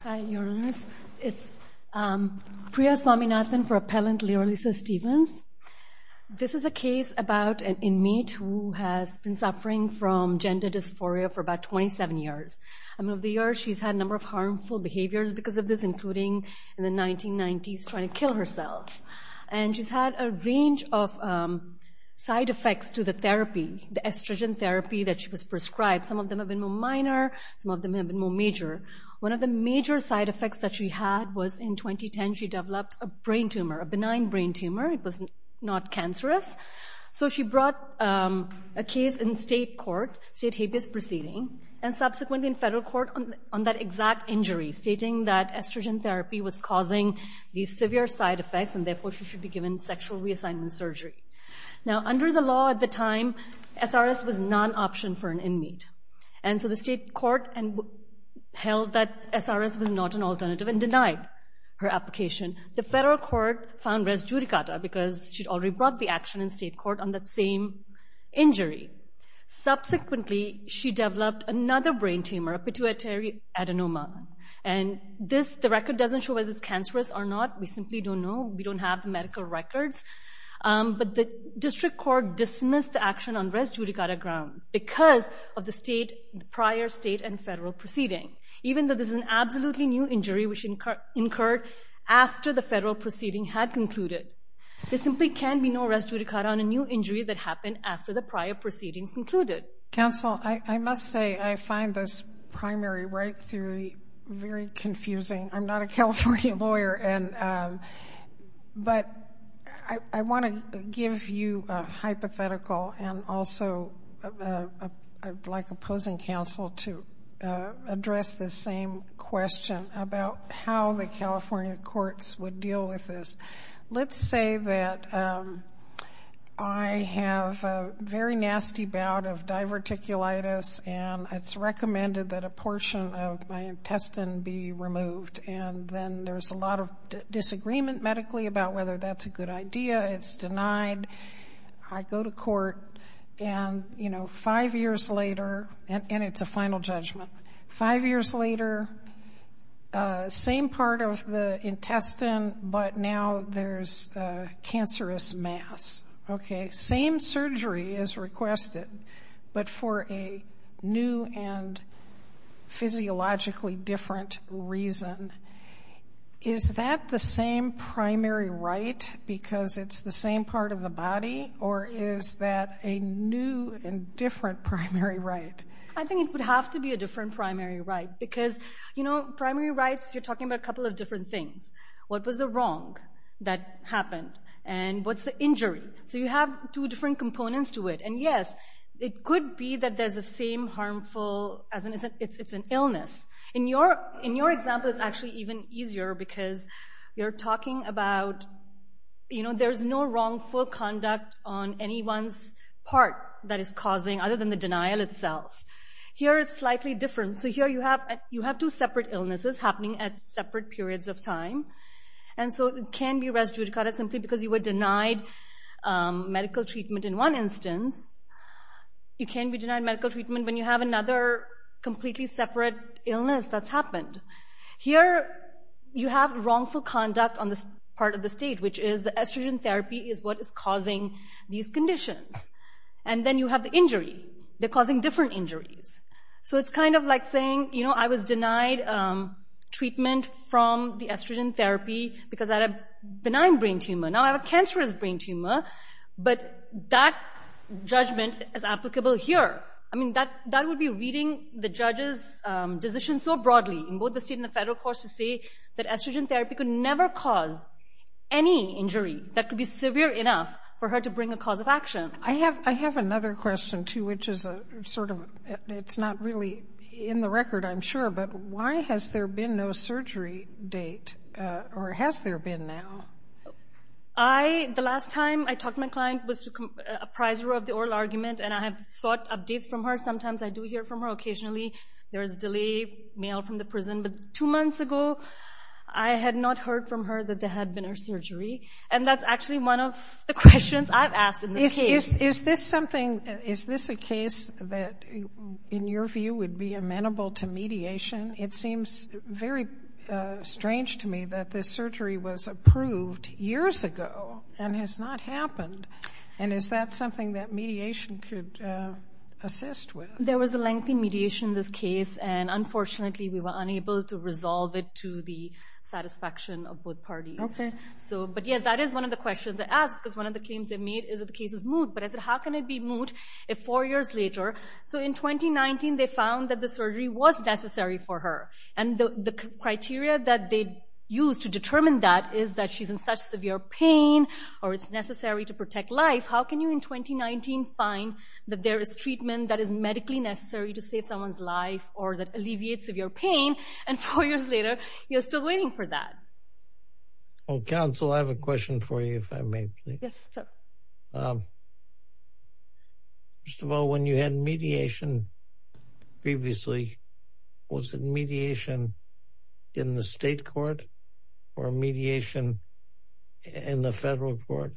Priya Swaminathan for Appellant Liralisa Stevens. This is a case about an inmate who has been suffering from gender dysphoria for about 27 years. Over the years she's had a number of harmful behaviors because of this, including in the 1990s trying to kill herself. And she's had a range of side effects to the therapy, the estrogen therapy that she was prescribed. Some of them have been more minor, some of them have been more major. One of the major side effects that she had was in 2010 she developed a brain tumor, a benign brain tumor. It was not cancerous. So she brought a case in state court, state habeas proceeding, and subsequently in federal court on that exact injury, stating that estrogen therapy was causing these severe side effects and therefore she should be given sexual reassignment surgery. Now under the law at the time, SRS was non-option for an inmate. And so the state court held that SRS was not an alternative and denied her application. The federal court found res judicata because she'd already brought the action in state court on that same injury. Subsequently she developed another brain tumor, a pituitary adenoma. And this, the record doesn't show whether it's cancerous or not. We simply don't know. We don't have the medical records. But the district court dismissed the action on because of the state, prior state and federal proceeding. Even though this is an absolutely new injury which incurred after the federal proceeding had concluded. There simply can be no res judicata on a new injury that happened after the prior proceedings concluded. Counsel, I must say I find this primary right theory very confusing. I'm not a I'd like opposing counsel to address the same question about how the California courts would deal with this. Let's say that I have a very nasty bout of diverticulitis and it's recommended that a portion of my intestine be removed. And then there's a lot of disagreement medically about whether that's a good five years later. And it's a final judgment. Five years later, same part of the intestine, but now there's a cancerous mass. Okay. Same surgery is requested, but for a new and physiologically different reason. Is that the same primary right? Because it's the same part of the body? Or is that a new and different primary right? I think it would have to be a different primary right. Because, you know, primary rights, you're talking about a couple of different things. What was the wrong that happened? And what's the injury? So you have two different components to it. And yes, it could be that there's the same harmful, as in it's an illness. In your example, it's actually even easier because you're talking about, you know, there's no wrongful conduct on anyone's part that is causing, other than the denial itself. Here it's slightly different. So here you have two separate illnesses happening at separate periods of time. And so it can be res judicata simply because you were denied medical treatment in one instance. You can be denied medical treatment when you have another completely separate illness that's happened. Here you have wrongful conduct on this part of the state, which is the estrogen therapy is what is causing these conditions. And then you have the injury. They're causing different injuries. So it's kind of like saying, you know, I was denied treatment from the estrogen therapy because I had a benign brain tumor. Now I have a cancerous brain tumor. But that judgment is applicable here. I mean, that would be reading the judge's decision so broadly, in both the state and the federal courts, to say that estrogen therapy could never cause any injury that could be severe enough for her to bring a cause of action. I have another question, too, which is a sort of, it's not really in the record, I'm sure, but why has there been no surgery date, or has there been now? The last time I talked to my client was to appraiser of the oral argument, and I have sought updates from her. Sometimes I do hear from her occasionally. There is delay, mail from the prison. But two months ago, I had not heard from her that there had been no surgery. And that's actually one of the questions I've asked. Is this something, is this a case that, in your view, would be amenable to mediation? It seems very strange to me that this surgery was approved years ago and has not happened. And is that something that mediation could assist with? There was a lengthy mediation in this case, and unfortunately, we were unable to resolve it to the satisfaction of both parties. Okay. So, but yeah, that is one of the questions I asked, because one of the claims they made is that the case is moot. But I said, how can it be moot if four years later? So in 2019, they found that the surgery was necessary for her. And the criteria that they used to determine that is that she's in such severe pain, or it's necessary to protect life. How can you, in 2019, find that there is treatment that is medically necessary to you're still waiting for that? Well, counsel, I have a question for you, if I may. First of all, when you had mediation previously, was it mediation in the state court or mediation in the federal court?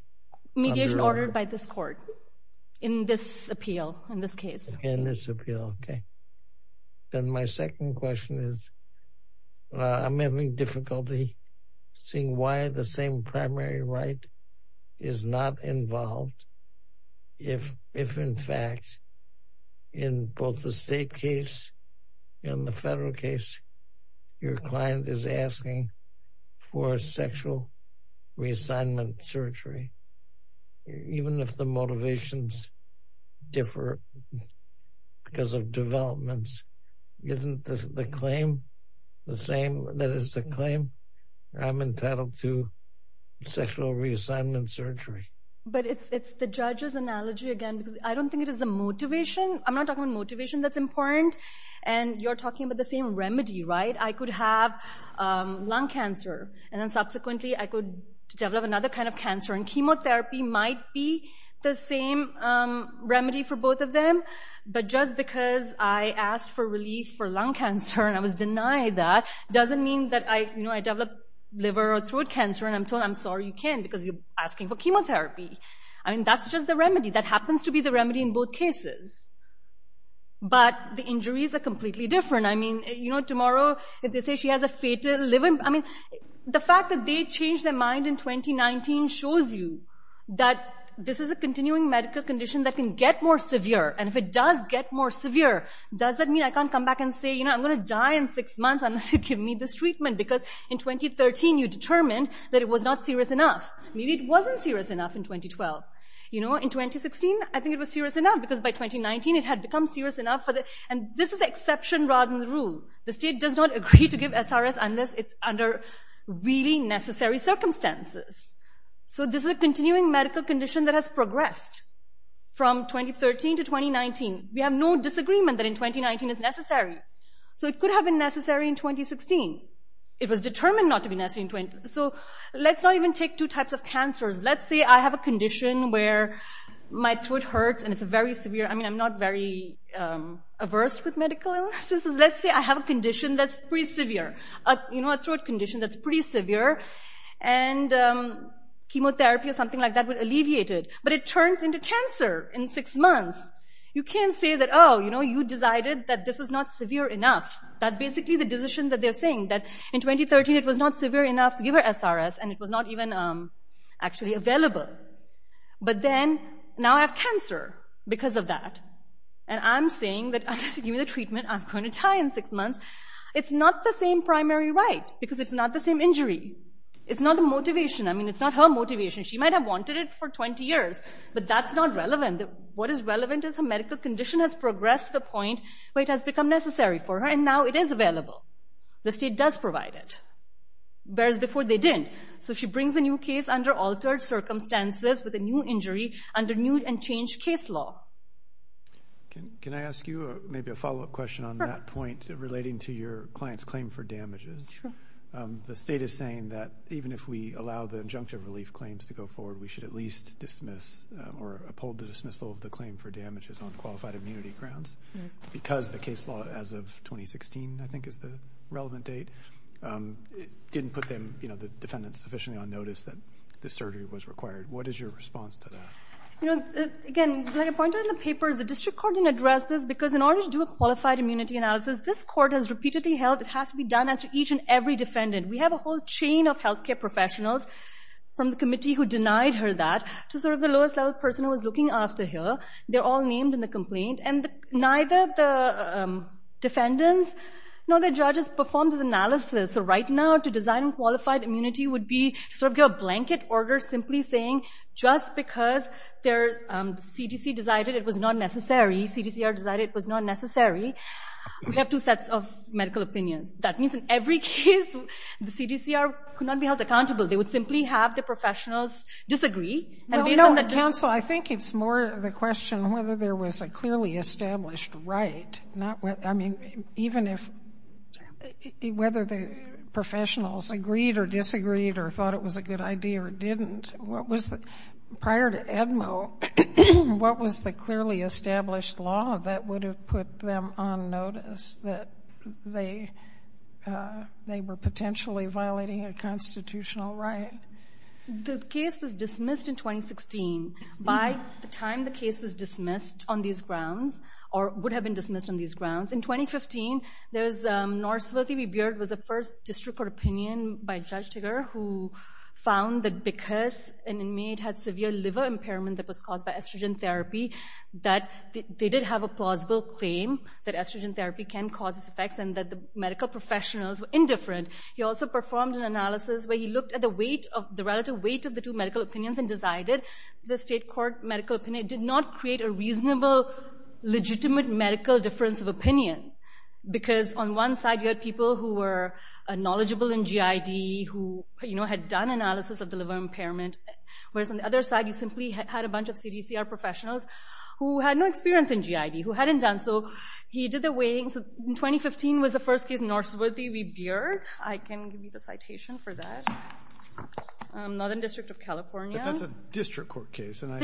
Mediation ordered by this court, in this appeal, in this case. In this appeal, okay. Then my second question is, I'm having difficulty seeing why the same primary right is not involved, if in fact, in both the state case and the federal case, your client is asking for different, because of developments. Isn't this the claim, the same, that is the claim? I'm entitled to sexual reassignment surgery. But it's the judge's analogy again, because I don't think it is the motivation. I'm not talking about motivation that's important. And you're talking about the same remedy, right? I could have lung cancer, and then subsequently, I could develop another kind of cancer. And chemotherapy might be the same remedy for both of them. But just because I asked for relief for lung cancer, and I was denied that, doesn't mean that I, you know, I develop liver or throat cancer, and I'm told, I'm sorry, you can't, because you're asking for chemotherapy. I mean, that's just the remedy. That happens to be the remedy in both cases. But the injuries are completely different. I mean, you know, tomorrow, if they say she has a fatal liver, I mean, the fact that they changed their mind in 2019 shows you that this is a continuing medical condition that can get more severe. And if it does get more severe, does that mean I can't come back and say, you know, I'm gonna die in six months unless you give me this treatment? Because in 2013, you determined that it was not serious enough. Maybe it wasn't serious enough in 2012. You know, in 2016, I think it was serious enough, because by 2019, it had become serious enough. And this is the exception rather than the rule. The rule is that I can't come back unless it's under really necessary circumstances. So this is a continuing medical condition that has progressed from 2013 to 2019. We have no disagreement that in 2019 it's necessary. So it could have been necessary in 2016. It was determined not to be necessary in 20... So let's not even take two types of cancers. Let's say I have a condition where my throat hurts and it's very severe. I mean, I'm not very averse with medical illnesses. Let's say I have a condition that's pretty severe, you know, a throat condition that's pretty severe, and chemotherapy or something like that would alleviate it. But it turns into cancer in six months. You can't say that, oh, you know, you decided that this was not severe enough. That's basically the decision that they're saying, that in 2013, it was not severe enough to give her SRS, and it was not even actually available. But then, now I have cancer because of that. And I'm saying that, give me the treatment, I'm going to die in six months. It's not the same primary right, because it's not the same injury. It's not the motivation. I mean, it's not her motivation. She might have wanted it for 20 years, but that's not relevant. What is relevant is her medical condition has progressed to the point where it has become necessary for her, and now it is available. The state does provide it, whereas before they didn't. So she brings a new case under altered circumstances with a new injury under new and changed case law. Can I ask you maybe a follow-up question on that point relating to your client's claim for damages? The state is saying that even if we allow the injunctive relief claims to go forward, we should at least dismiss or uphold the dismissal of the claim for damages on qualified immunity grounds, because the case law as of 2016, I think is the relevant date, didn't put them, you know, the defendants sufficiently on notice that the surgery was required. What is your response to that? You know, again, like I pointed out in the papers, the district court didn't address this, because in order to do a qualified immunity analysis, this court has repeatedly held it has to be done as to each and every defendant. We have a whole chain of health care professionals from the committee who denied her that, to sort of the lowest level person who was looking after her. They're all named in the complaint, and neither the defendants nor the judges performed this analysis. So right now, to design qualified immunity would be to sort of blanket order, simply saying, just because there's CDC decided it was not necessary, CDCR decided it was not necessary, we have two sets of medical opinions. That means in every case, the CDCR could not be held accountable. They would simply have the professionals disagree, and based on that... No, no, counsel, I think it's more the question whether there was a clearly established right, not what, I mean, even if, whether the professionals agreed or disagreed or thought it was a good idea or didn't, what was the, prior to Edmo, what was the clearly established law that would have put them on notice that they, they were potentially violating a constitutional right? The case was dismissed in 2016. By the time the case was dismissed on these grounds, or would have been dismissed on these grounds, in 2015, there's, North Sylvie Beard was the first district court opinion by Judge Tigger, who found that because an inmate had severe liver impairment that was caused by estrogen therapy, that they did have a plausible claim that estrogen therapy can cause these effects, and that the medical professionals were indifferent. He also performed an analysis where he looked at the weight of, the relative weight of the two medical opinions and decided the state court medical opinion did not create a reasonable, legitimate medical difference of opinion, because on one side, you had people who were a G.I.D. who, you know, had done analysis of the liver impairment, whereas on the other side, you simply had a bunch of CDCR professionals who had no experience in G.I.D., who hadn't done so. He did the weighing. So in 2015 was the first case, North Sylvie Beard. I can give you the citation for that. Northern District of California. But that's a district court case, and I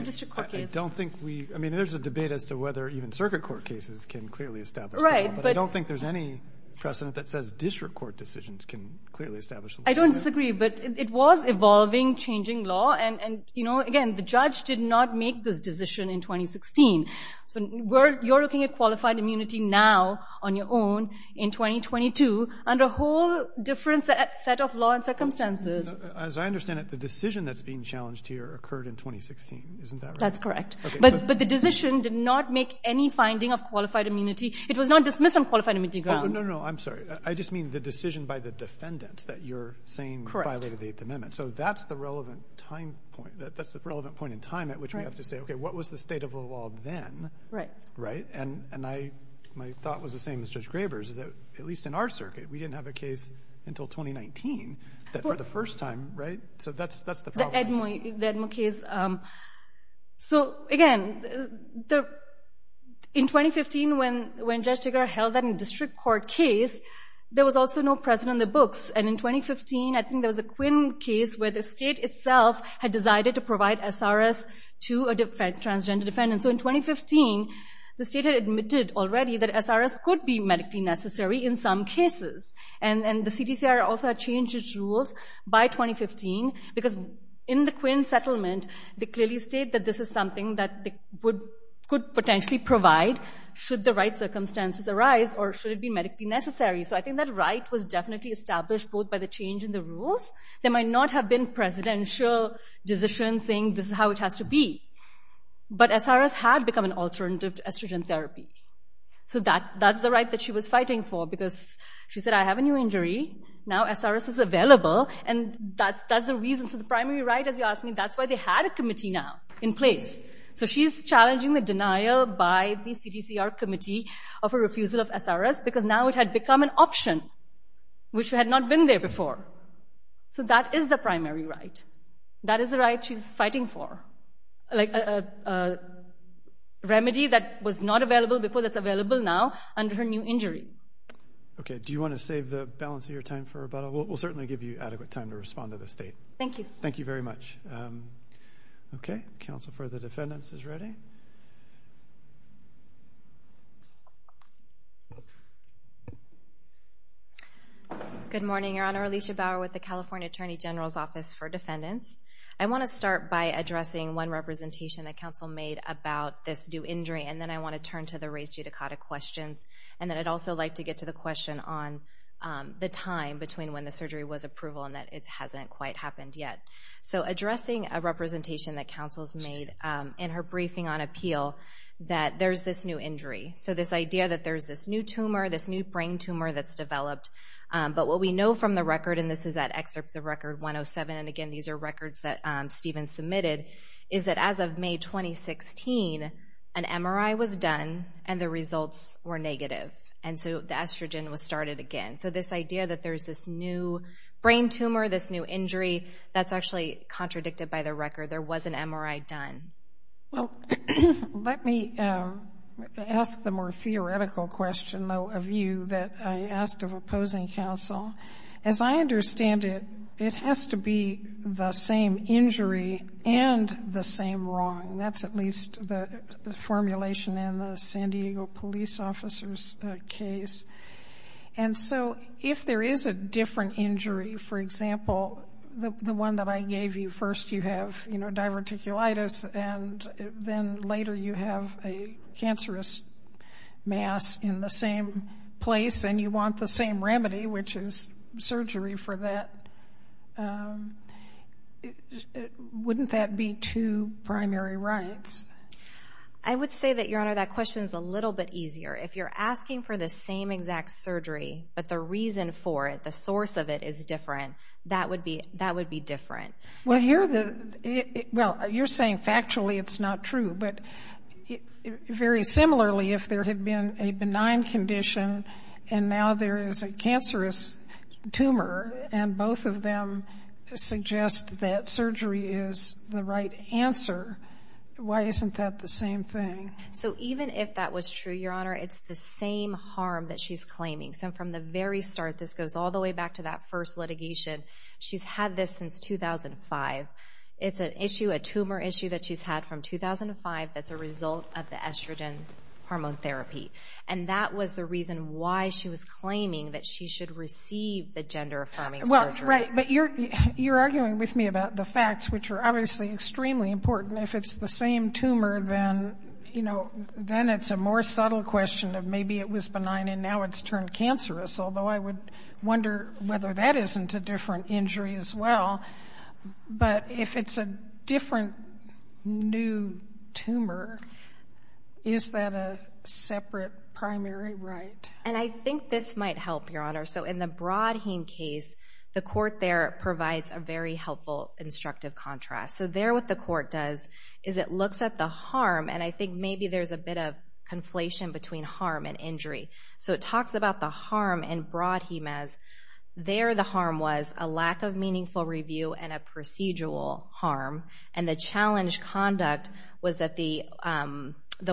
don't think we, I mean, there's a debate as to whether even circuit court cases can clearly establish that. Right. But I don't think there's any precedent that says district court decisions can clearly establish. I don't disagree, but it was evolving, changing law, and, you know, again, the judge did not make this decision in 2016. So we're, you're looking at qualified immunity now, on your own, in 2022, under a whole different set of law and circumstances. As I understand it, the decision that's being challenged here occurred in 2016, isn't that right? That's correct. But the decision did not make any finding of qualified immunity. It was not dismissed on qualified immunity grounds. No, no, no, I'm sorry. I just mean the decision by the defendants that you're saying violated the Eighth Amendment. So that's the relevant time point, that's the relevant point in time at which we have to say, okay, what was the state of the law then? Right. Right. And, and I, my thought was the same as Judge Graber's, is that, at least in our circuit, we didn't have a case until 2019, that for the first time, right? So that's, that's the problem. The Edmo case. So again, the, in this court case, there was also no precedent in the books. And in 2015, I think there was a Quinn case where the state itself had decided to provide SRS to a transgender defendant. So in 2015, the state had admitted already that SRS could be medically necessary in some cases. And, and the CDCR also had changed its rules by 2015, because in the Quinn settlement, they clearly state that this is something that they would, could potentially provide, should the right be medically necessary. So I think that right was definitely established both by the change in the rules. There might not have been presidential decision saying this is how it has to be. But SRS had become an alternative to estrogen therapy. So that, that's the right that she was fighting for, because she said, I have a new injury. Now SRS is available. And that's, that's the reason. So the primary right, as you asked me, that's why they had a committee now in place. So she's challenging the denial by the CDCR committee of a refusal of SRS, because now it had become an option, which had not been there before. So that is the primary right. That is the right she's fighting for, like a remedy that was not available before that's available now under her new injury. Okay, do you want to save the balance of your time for about, we'll certainly give you adequate time to respond to the state. Thank you. Thank you very much. Okay, counsel for the defendants is ready. Good morning, Your Honor. Alicia Bauer with the California Attorney General's Office for Defendants. I want to start by addressing one representation that counsel made about this new injury. And then I want to turn to the race judicata questions. And then I'd also like to get to the question on the time between when the surgery was approval and that it hasn't quite happened yet. So addressing a representation that counsel's made in her briefing on appeal that there's this new injury. So this idea that there's this new tumor, this new brain tumor that's developed. But what we know from the record, and this is at excerpts of record 107, and again, these are records that Stephen submitted, is that as of May 2016, an MRI was done and the results were negative. And so the estrogen was started again. So this idea that there's this new brain tumor, this new injury, that's actually contradicted by the record. There was an MRI done. Well, let me ask the more theoretical question, though, of you that I asked of opposing counsel. As I understand it, it has to be the same injury and the same wrong. That's at least the formulation in the San Diego police officer's case. And so if there is a different injury, for example, the one that I gave you, first you have diverticulitis and then later you have a cancerous mass in the same place and you want the same remedy, which is surgery for that. Wouldn't that be two primary rights? I would say that, Your Honor, that question is a little bit easier. If you're asking for the same exact surgery, but the reason for it, the source of it is different, that would be different. Well, you're saying factually it's not true, but very similarly, if there had been a benign condition and now there is a cancerous tumor and both of them suggest that surgery is the right answer, why isn't that the same thing? So even if that was true, Your Honor, it's the same harm that she's claiming. So from the very start, this goes all the way back to that first litigation. She's had this since 2005. It's an issue, a tumor issue that she's had from 2005 that's a result of the estrogen hormone therapy. And that was the reason why she was claiming that she should receive the gender-affirming surgery. Well, right. But you're arguing with me about the facts, which are obviously extremely important. If it's the same tumor, then, you know, then it's a more subtle question of maybe it was benign and now it's turned cancerous, although I would wonder whether that isn't a different injury as well. But if it's a different new tumor, is that a separate primary right? And I think this might help, Your Honor. So in the Broadheen case, the court there what the court does is it looks at the harm. And I think maybe there's a bit of conflation between harm and injury. So it talks about the harm in Broadheen as there the harm was a lack of meaningful review and a procedural harm. And the challenge conduct was that the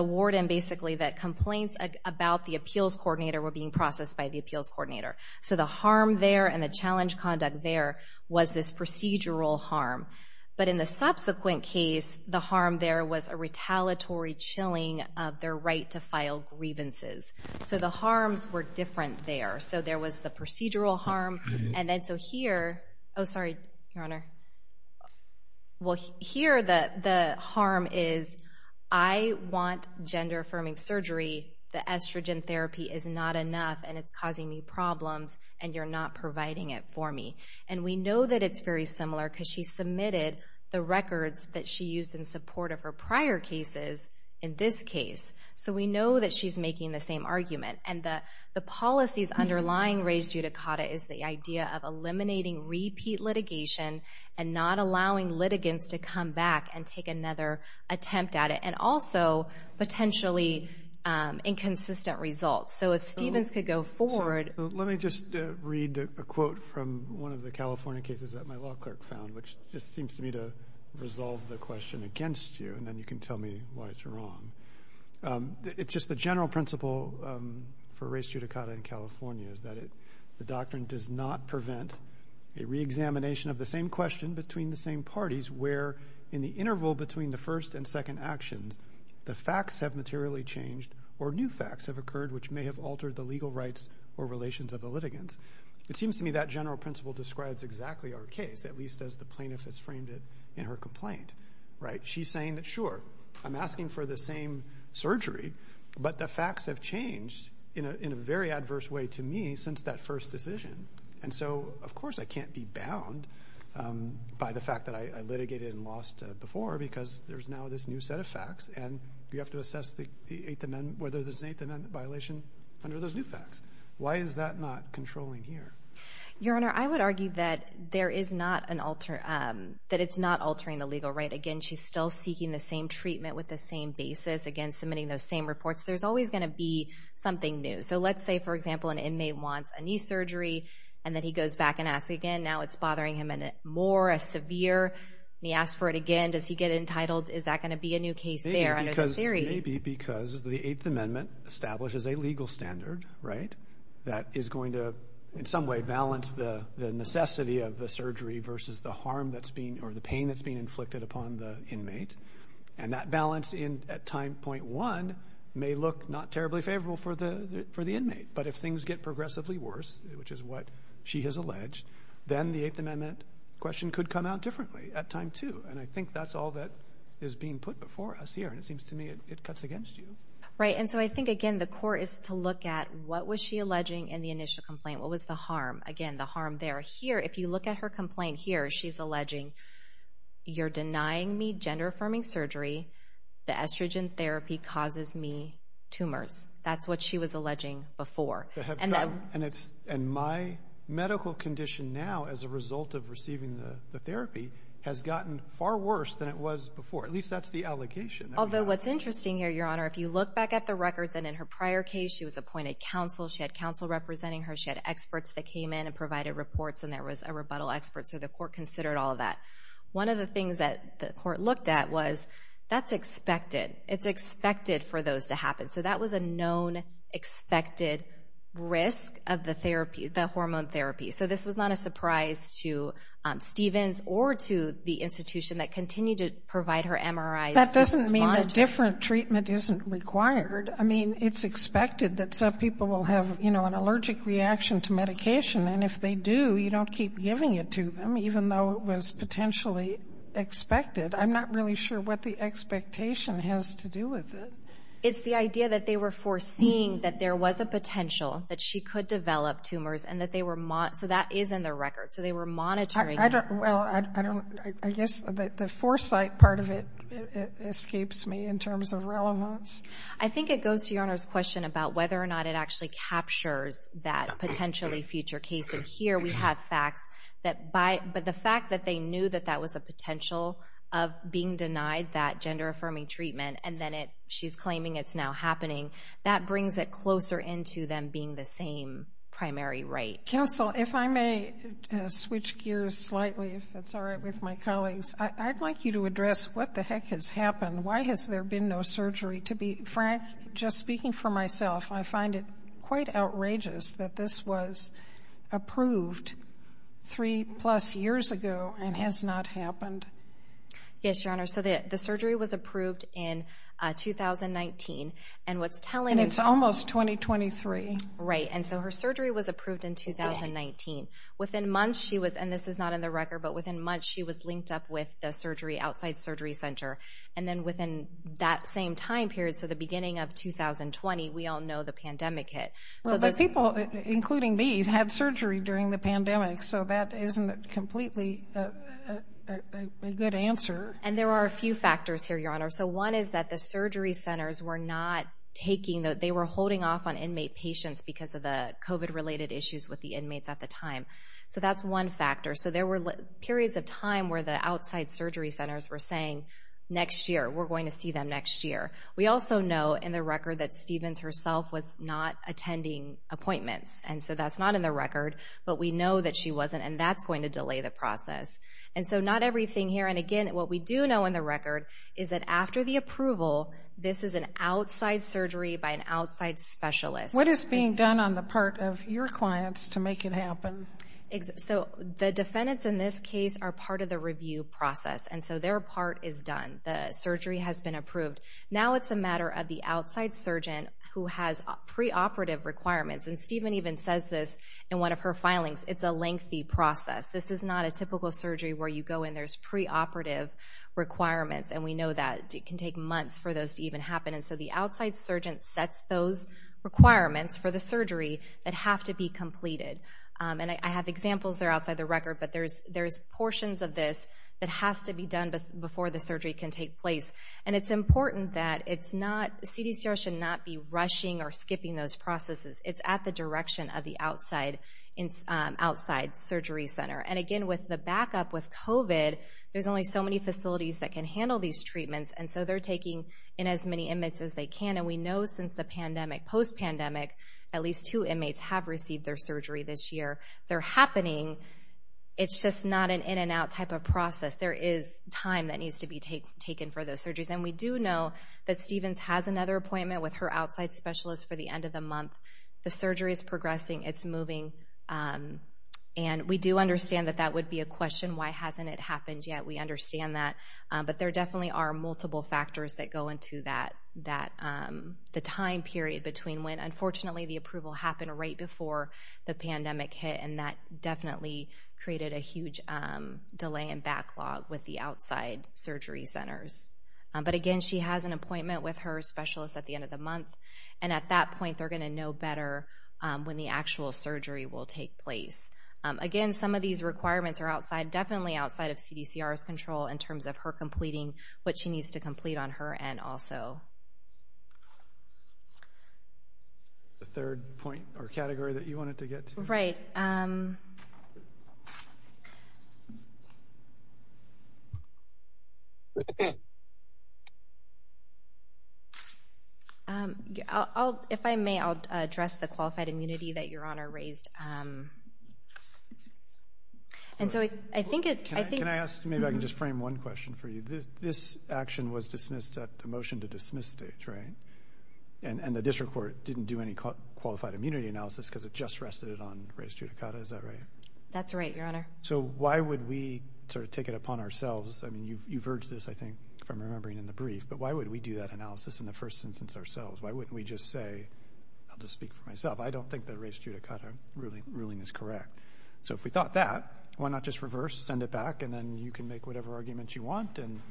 warden basically that complaints about the appeals coordinator were being processed by the appeals coordinator. So the harm there and the challenge conduct there was this procedural harm. But in the subsequent case, the harm there was a retaliatory chilling of their right to file grievances. So the harms were different there. So there was the procedural harm. And then so here. Oh, sorry, Your Honor. Well, here the harm is I want gender affirming surgery. The estrogen therapy is not enough and it's causing me problems and you're not providing it for me. And we know that it's very similar because she submitted the records that she used in support of her prior cases in this case. So we know that she's making the same argument and that the policies underlying raised judicata is the idea of eliminating repeat litigation and not allowing litigants to come back and take another attempt at it and also potentially inconsistent results. So if Stevens could go forward. Let me just read a quote from one of the California cases that my law clerk found, which just seems to me to resolve the question against you and then you can tell me why it's wrong. It's just the general principle for race judicata in California is that the doctrine does not prevent a reexamination of the same question between the same parties where in the interval between the first and second actions, the facts have materially changed or new facts have occurred which may have altered the legal rights or relations of the litigants. It seems to me that general principle describes exactly our case, at least as the plaintiff has framed it in her complaint, right? She's saying that sure, I'm asking for the same surgery, but the facts have changed in a very adverse way to me since that first decision. And so of course I can't be bound by the fact that I litigated and lost before because there's now this new set of facts and you have to assess the 8th Amendment, whether there's an 8th Amendment violation under those new facts. Why is that not controlling here? Your Honor, I would argue that there is not an alter, that it's not altering the legal right. Again, she's still seeking the same treatment with the same basis. Again, submitting those same reports. There's always going to be something new. So let's say, for example, an inmate wants a knee surgery and then he goes back and asks again. Now it's bothering him and it's more severe. He asks for it again. Does he get entitled? Is that going to be a new case there? Maybe because the 8th Amendment establishes a legal standard, right, that is going to in some way balance the necessity of the surgery versus the harm that's being or the pain that's being inflicted upon the inmate. And that balance in at time point one may look not terribly favorable for the for the inmate. But if things get progressively worse, which is what she has alleged, then the 8th Amendment question could come out differently at time two. And I think that's all that is being put before us here. And it seems to me it cuts against you. Right, and so I think again the core is to look at what was she alleging in the initial complaint. What was the harm? Again, the harm there. Here, if you look at her complaint here, she's alleging you're denying me gender-affirming surgery. The estrogen therapy causes me tumors. That's what she was alleging before. And my medical condition now as a result of receiving the therapy has gotten far worse than it was before. At least that's the allegation. Although what's interesting here, Your Honor, if you look back at the records and in her prior case she was appointed counsel. She had counsel representing her. She had experts that came in and provided reports and there was a rebuttal expert. So the court considered all of that. One of the things that the court looked at was that's expected. It's expected for those to happen. So that was a known expected risk of the therapy, the hormone therapy. So this was not a surprise to Stevens or to the institution that continue to provide her MRIs. That doesn't mean a different treatment isn't required. I mean it's expected that some people will have, you know, an allergic reaction to medication and if they do you don't keep giving it to them even though it was potentially expected. I'm not really sure what the expectation has to do with it. It's the idea that they were foreseeing that there was a potential that she could develop tumors and that they were monitoring. So that is in the record. So they were monitoring. I guess the foresight part of it escapes me in terms of relevance. I think it goes to Your Honor's question about whether or not it actually captures that potentially future case. And here we have facts that by but the fact that they knew that that was a potential of being denied that gender-affirming treatment and then it she's claiming it's now happening. That brings it closer into them being the same primary right. Counsel, if I may switch gears slightly if that's all right with my colleagues. I'd like you to address what the heck has happened. Why has there been no surgery? To be frank, just speaking for myself, I find it quite outrageous that this was approved three-plus years ago and has not been approved since 2019. And it's almost 2023. Right. And so her surgery was approved in 2019. Within months she was, and this is not in the record, but within months she was linked up with the surgery outside Surgery Center. And then within that same time period, so the beginning of 2020, we all know the pandemic hit. So the people, including me, had surgery during the pandemic. So that isn't completely a good answer. And there are a few factors here, Your Honor. So one is that the surgery centers were not taking, they were holding off on inmate patients because of the COVID-related issues with the inmates at the time. So that's one factor. So there were periods of time where the outside surgery centers were saying, next year, we're going to see them next year. We also know in the record that Stevens herself was not attending appointments. And so that's not in the record, but we know that she wasn't and that's going to delay the process. And so not everything here, and again what we do know in the approval, this is an outside surgery by an outside specialist. What is being done on the part of your clients to make it happen? So the defendants in this case are part of the review process, and so their part is done. The surgery has been approved. Now it's a matter of the outside surgeon who has preoperative requirements. And Steven even says this in one of her filings, it's a lengthy process. This is not a typical surgery where you go in, there's preoperative requirements, and we know that it can take months for those to even happen. And so the outside surgeon sets those requirements for the surgery that have to be completed. And I have examples there outside the record, but there's there's portions of this that has to be done before the surgery can take place. And it's important that it's not, CDCR should not be rushing or skipping those processes. It's at the direction of the outside surgery center. And there's only so many facilities that can handle these treatments, and so they're taking in as many inmates as they can. And we know since the pandemic, post- pandemic, at least two inmates have received their surgery this year. They're happening, it's just not an in-and-out type of process. There is time that needs to be taken for those surgeries. And we do know that Stevens has another appointment with her outside specialist for the end of the month. The surgery is progressing, it's moving, and we do understand that that would be a we understand that. But there definitely are multiple factors that go into that, that the time period between when, unfortunately, the approval happened right before the pandemic hit. And that definitely created a huge delay and backlog with the outside surgery centers. But again, she has an appointment with her specialist at the end of the month, and at that point they're going to know better when the actual surgery will take place. Again, some of these requirements are outside, definitely outside, of CDCR's control in terms of her completing what she needs to complete on her end also. The third point or category that you wanted to get to. Right. If I may, I'll address the qualified immunity that your honor raised. And so I think it... Can I ask, maybe I can just frame one question for you. This action was dismissed at the motion to dismiss stage, right? And the district court didn't do any qualified immunity analysis because it just rested it on Ray Stutakata, is that right? That's right, your honor. So why would we sort of take it upon ourselves, I mean you've urged this I think from remembering in the brief, but why would we do that analysis in the first instance ourselves? Why wouldn't we just say, I'll just speak for myself, I don't think the Ray Stutakata ruling is correct. So if we thought that, why not just reverse, send it back, and then you can make whatever arguments you want, and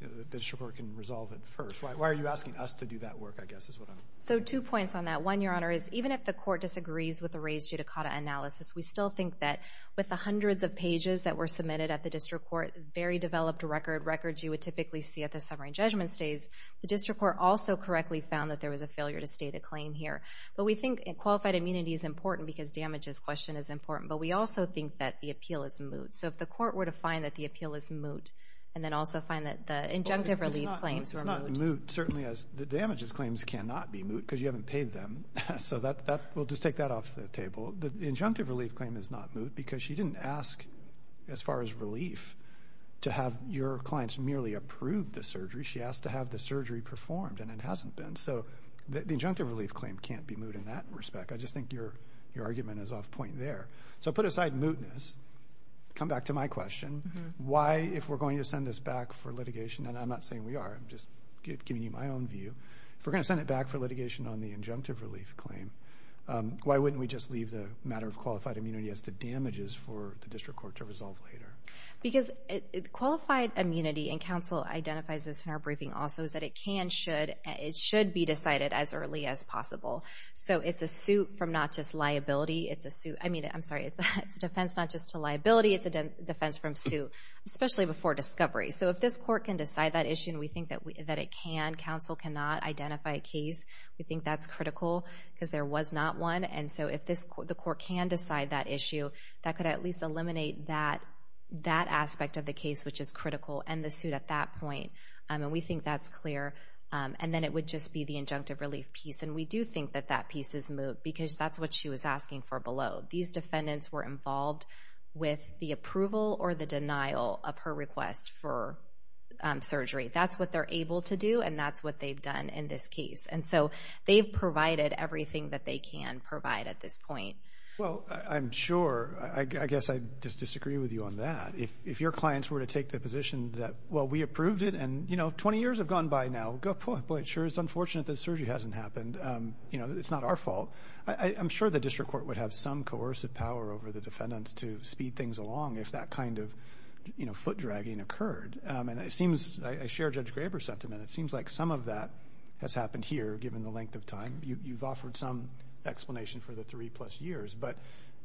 the district court can resolve it first. Why are you asking us to do that work, I guess is what I'm... So two points on that. One, your honor, is even if the court disagrees with the Ray Stutakata analysis, we still think that with the hundreds of pages that were submitted at the district court, very developed record, records you would typically see at the summary judgment stage, the district court also correctly found that there was a failure to state a claim here. But we think qualified immunity is important because damages question is important, but we also think that the appeal is moot. So if the court were to find that the appeal is moot, and then also find that the injunctive relief claims were moot. It's not moot, certainly as the damages claims cannot be moot, because you haven't paid them. So that, we'll just take that off the table. The injunctive relief claim is not moot, because she didn't ask, as far as relief, to have your clients merely approved the surgery. She asked to have the surgery performed, and it hasn't been. So the I think your argument is off point there. So put aside mootness, come back to my question. Why, if we're going to send this back for litigation, and I'm not saying we are, I'm just giving you my own view. If we're going to send it back for litigation on the injunctive relief claim, why wouldn't we just leave the matter of qualified immunity as to damages for the district court to resolve later? Because qualified immunity, and council identifies this in our briefing also, is that it can, should, be decided as early as possible. So it's a suit from not just liability, it's a suit, I mean, I'm sorry, it's a defense not just to liability, it's a defense from suit, especially before discovery. So if this court can decide that issue, and we think that it can, council cannot identify a case, we think that's critical, because there was not one. And so if this, the court can decide that issue, that could at least eliminate that aspect of the case, which is critical, and the suit at that point. And we think that's clear. And then it would just be the injunctive relief piece, and we do think that that piece is moved, because that's what she was asking for below. These defendants were involved with the approval or the denial of her request for surgery. That's what they're able to do, and that's what they've done in this case. And so they've provided everything that they can provide at this point. Well, I'm sure, I guess I just disagree with you on that. If your clients were to take the position that, well, we approved it, and you know, 20 years have gone by now, good point, but it is unfortunate that surgery hasn't happened. You know, it's not our fault. I'm sure the district court would have some coercive power over the defendants to speed things along if that kind of, you know, foot dragging occurred. And it seems, I share Judge Graber's sentiment, it seems like some of that has happened here, given the length of time. You've offered some explanation for the three plus years, but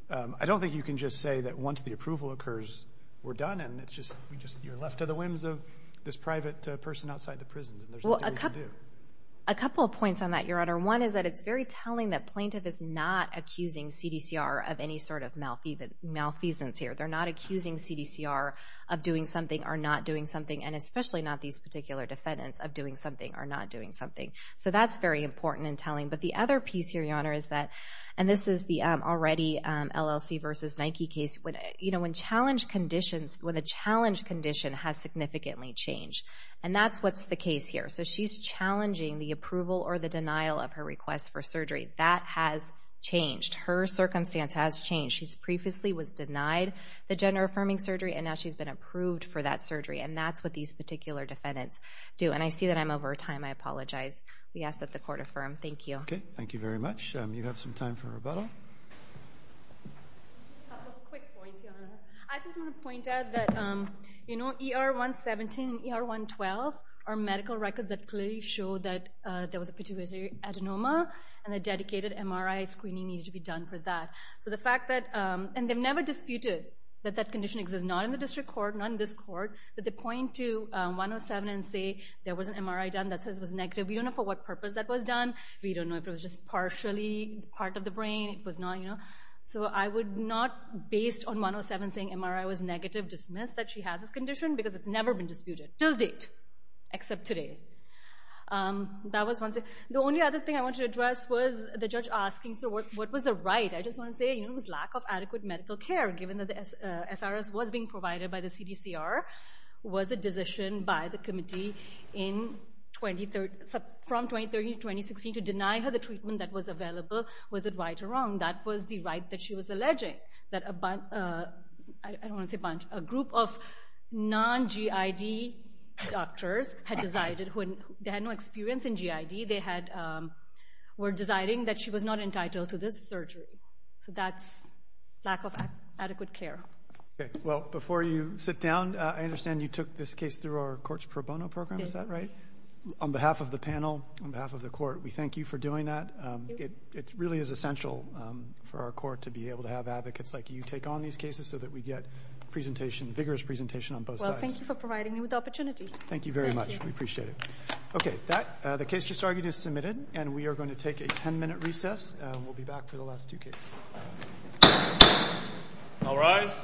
I don't think you can just say that once the approval occurs, we're done, and it's just, you're left to the whims of this private person outside the prison. Well, a couple of points on that, Your Honor. One is that it's very telling that plaintiff is not accusing CDCR of any sort of malfeasance here. They're not accusing CDCR of doing something or not doing something, and especially not these particular defendants of doing something or not doing something. So that's very important and telling. But the other piece here, Your Honor, is that, and this is the already LLC versus Nike case, when, you know, when challenge conditions, when the And that's what's the case here. So she's challenging the approval or the denial of her request for surgery. That has changed. Her circumstance has changed. She's previously was denied the gender-affirming surgery, and now she's been approved for that surgery. And that's what these particular defendants do. And I see that I'm over time. I apologize. We ask that the court affirm. Thank you. Okay, thank you very much. You have some time for rebuttal. I just want to point out that, you know, ER 117 and ER 112 are medical records that clearly show that there was a pituitary adenoma, and a dedicated MRI screening needed to be done for that. So the fact that, and they've never disputed that that condition exists, not in the district court, not in this court, but they point to 107 and say there was an MRI done that says it was negative. We don't know for what purpose that was done. We don't know if it was just not, you know. So I would not, based on 107 saying MRI was negative, dismiss that she has this condition, because it's never been disputed, till date, except today. That was one thing. The only other thing I want to address was the judge asking, so what was the right? I just want to say, you know, it was lack of adequate medical care, given that the SRS was being provided by the CDCR. Was the decision by the committee from 2013 to 2016 to deny her the right that she was alleging, that a bunch, I don't want to say a bunch, a group of non-GID doctors had decided, who had no experience in GID, they had, were deciding that she was not entitled to this surgery. So that's lack of adequate care. Okay, well before you sit down, I understand you took this case through our Courts Pro Bono program, is that right? On behalf of the panel, on behalf of the Court, we thank you for doing that. It really is essential for our Court to be able to have advocates like you take on these cases, so that we get presentation, vigorous presentation on both sides. Thank you for providing me with the opportunity. Thank you very much, we appreciate it. Okay, that, the case just argued is submitted, and we are going to take a 10-minute recess, and we'll be back for the last two cases. All rise.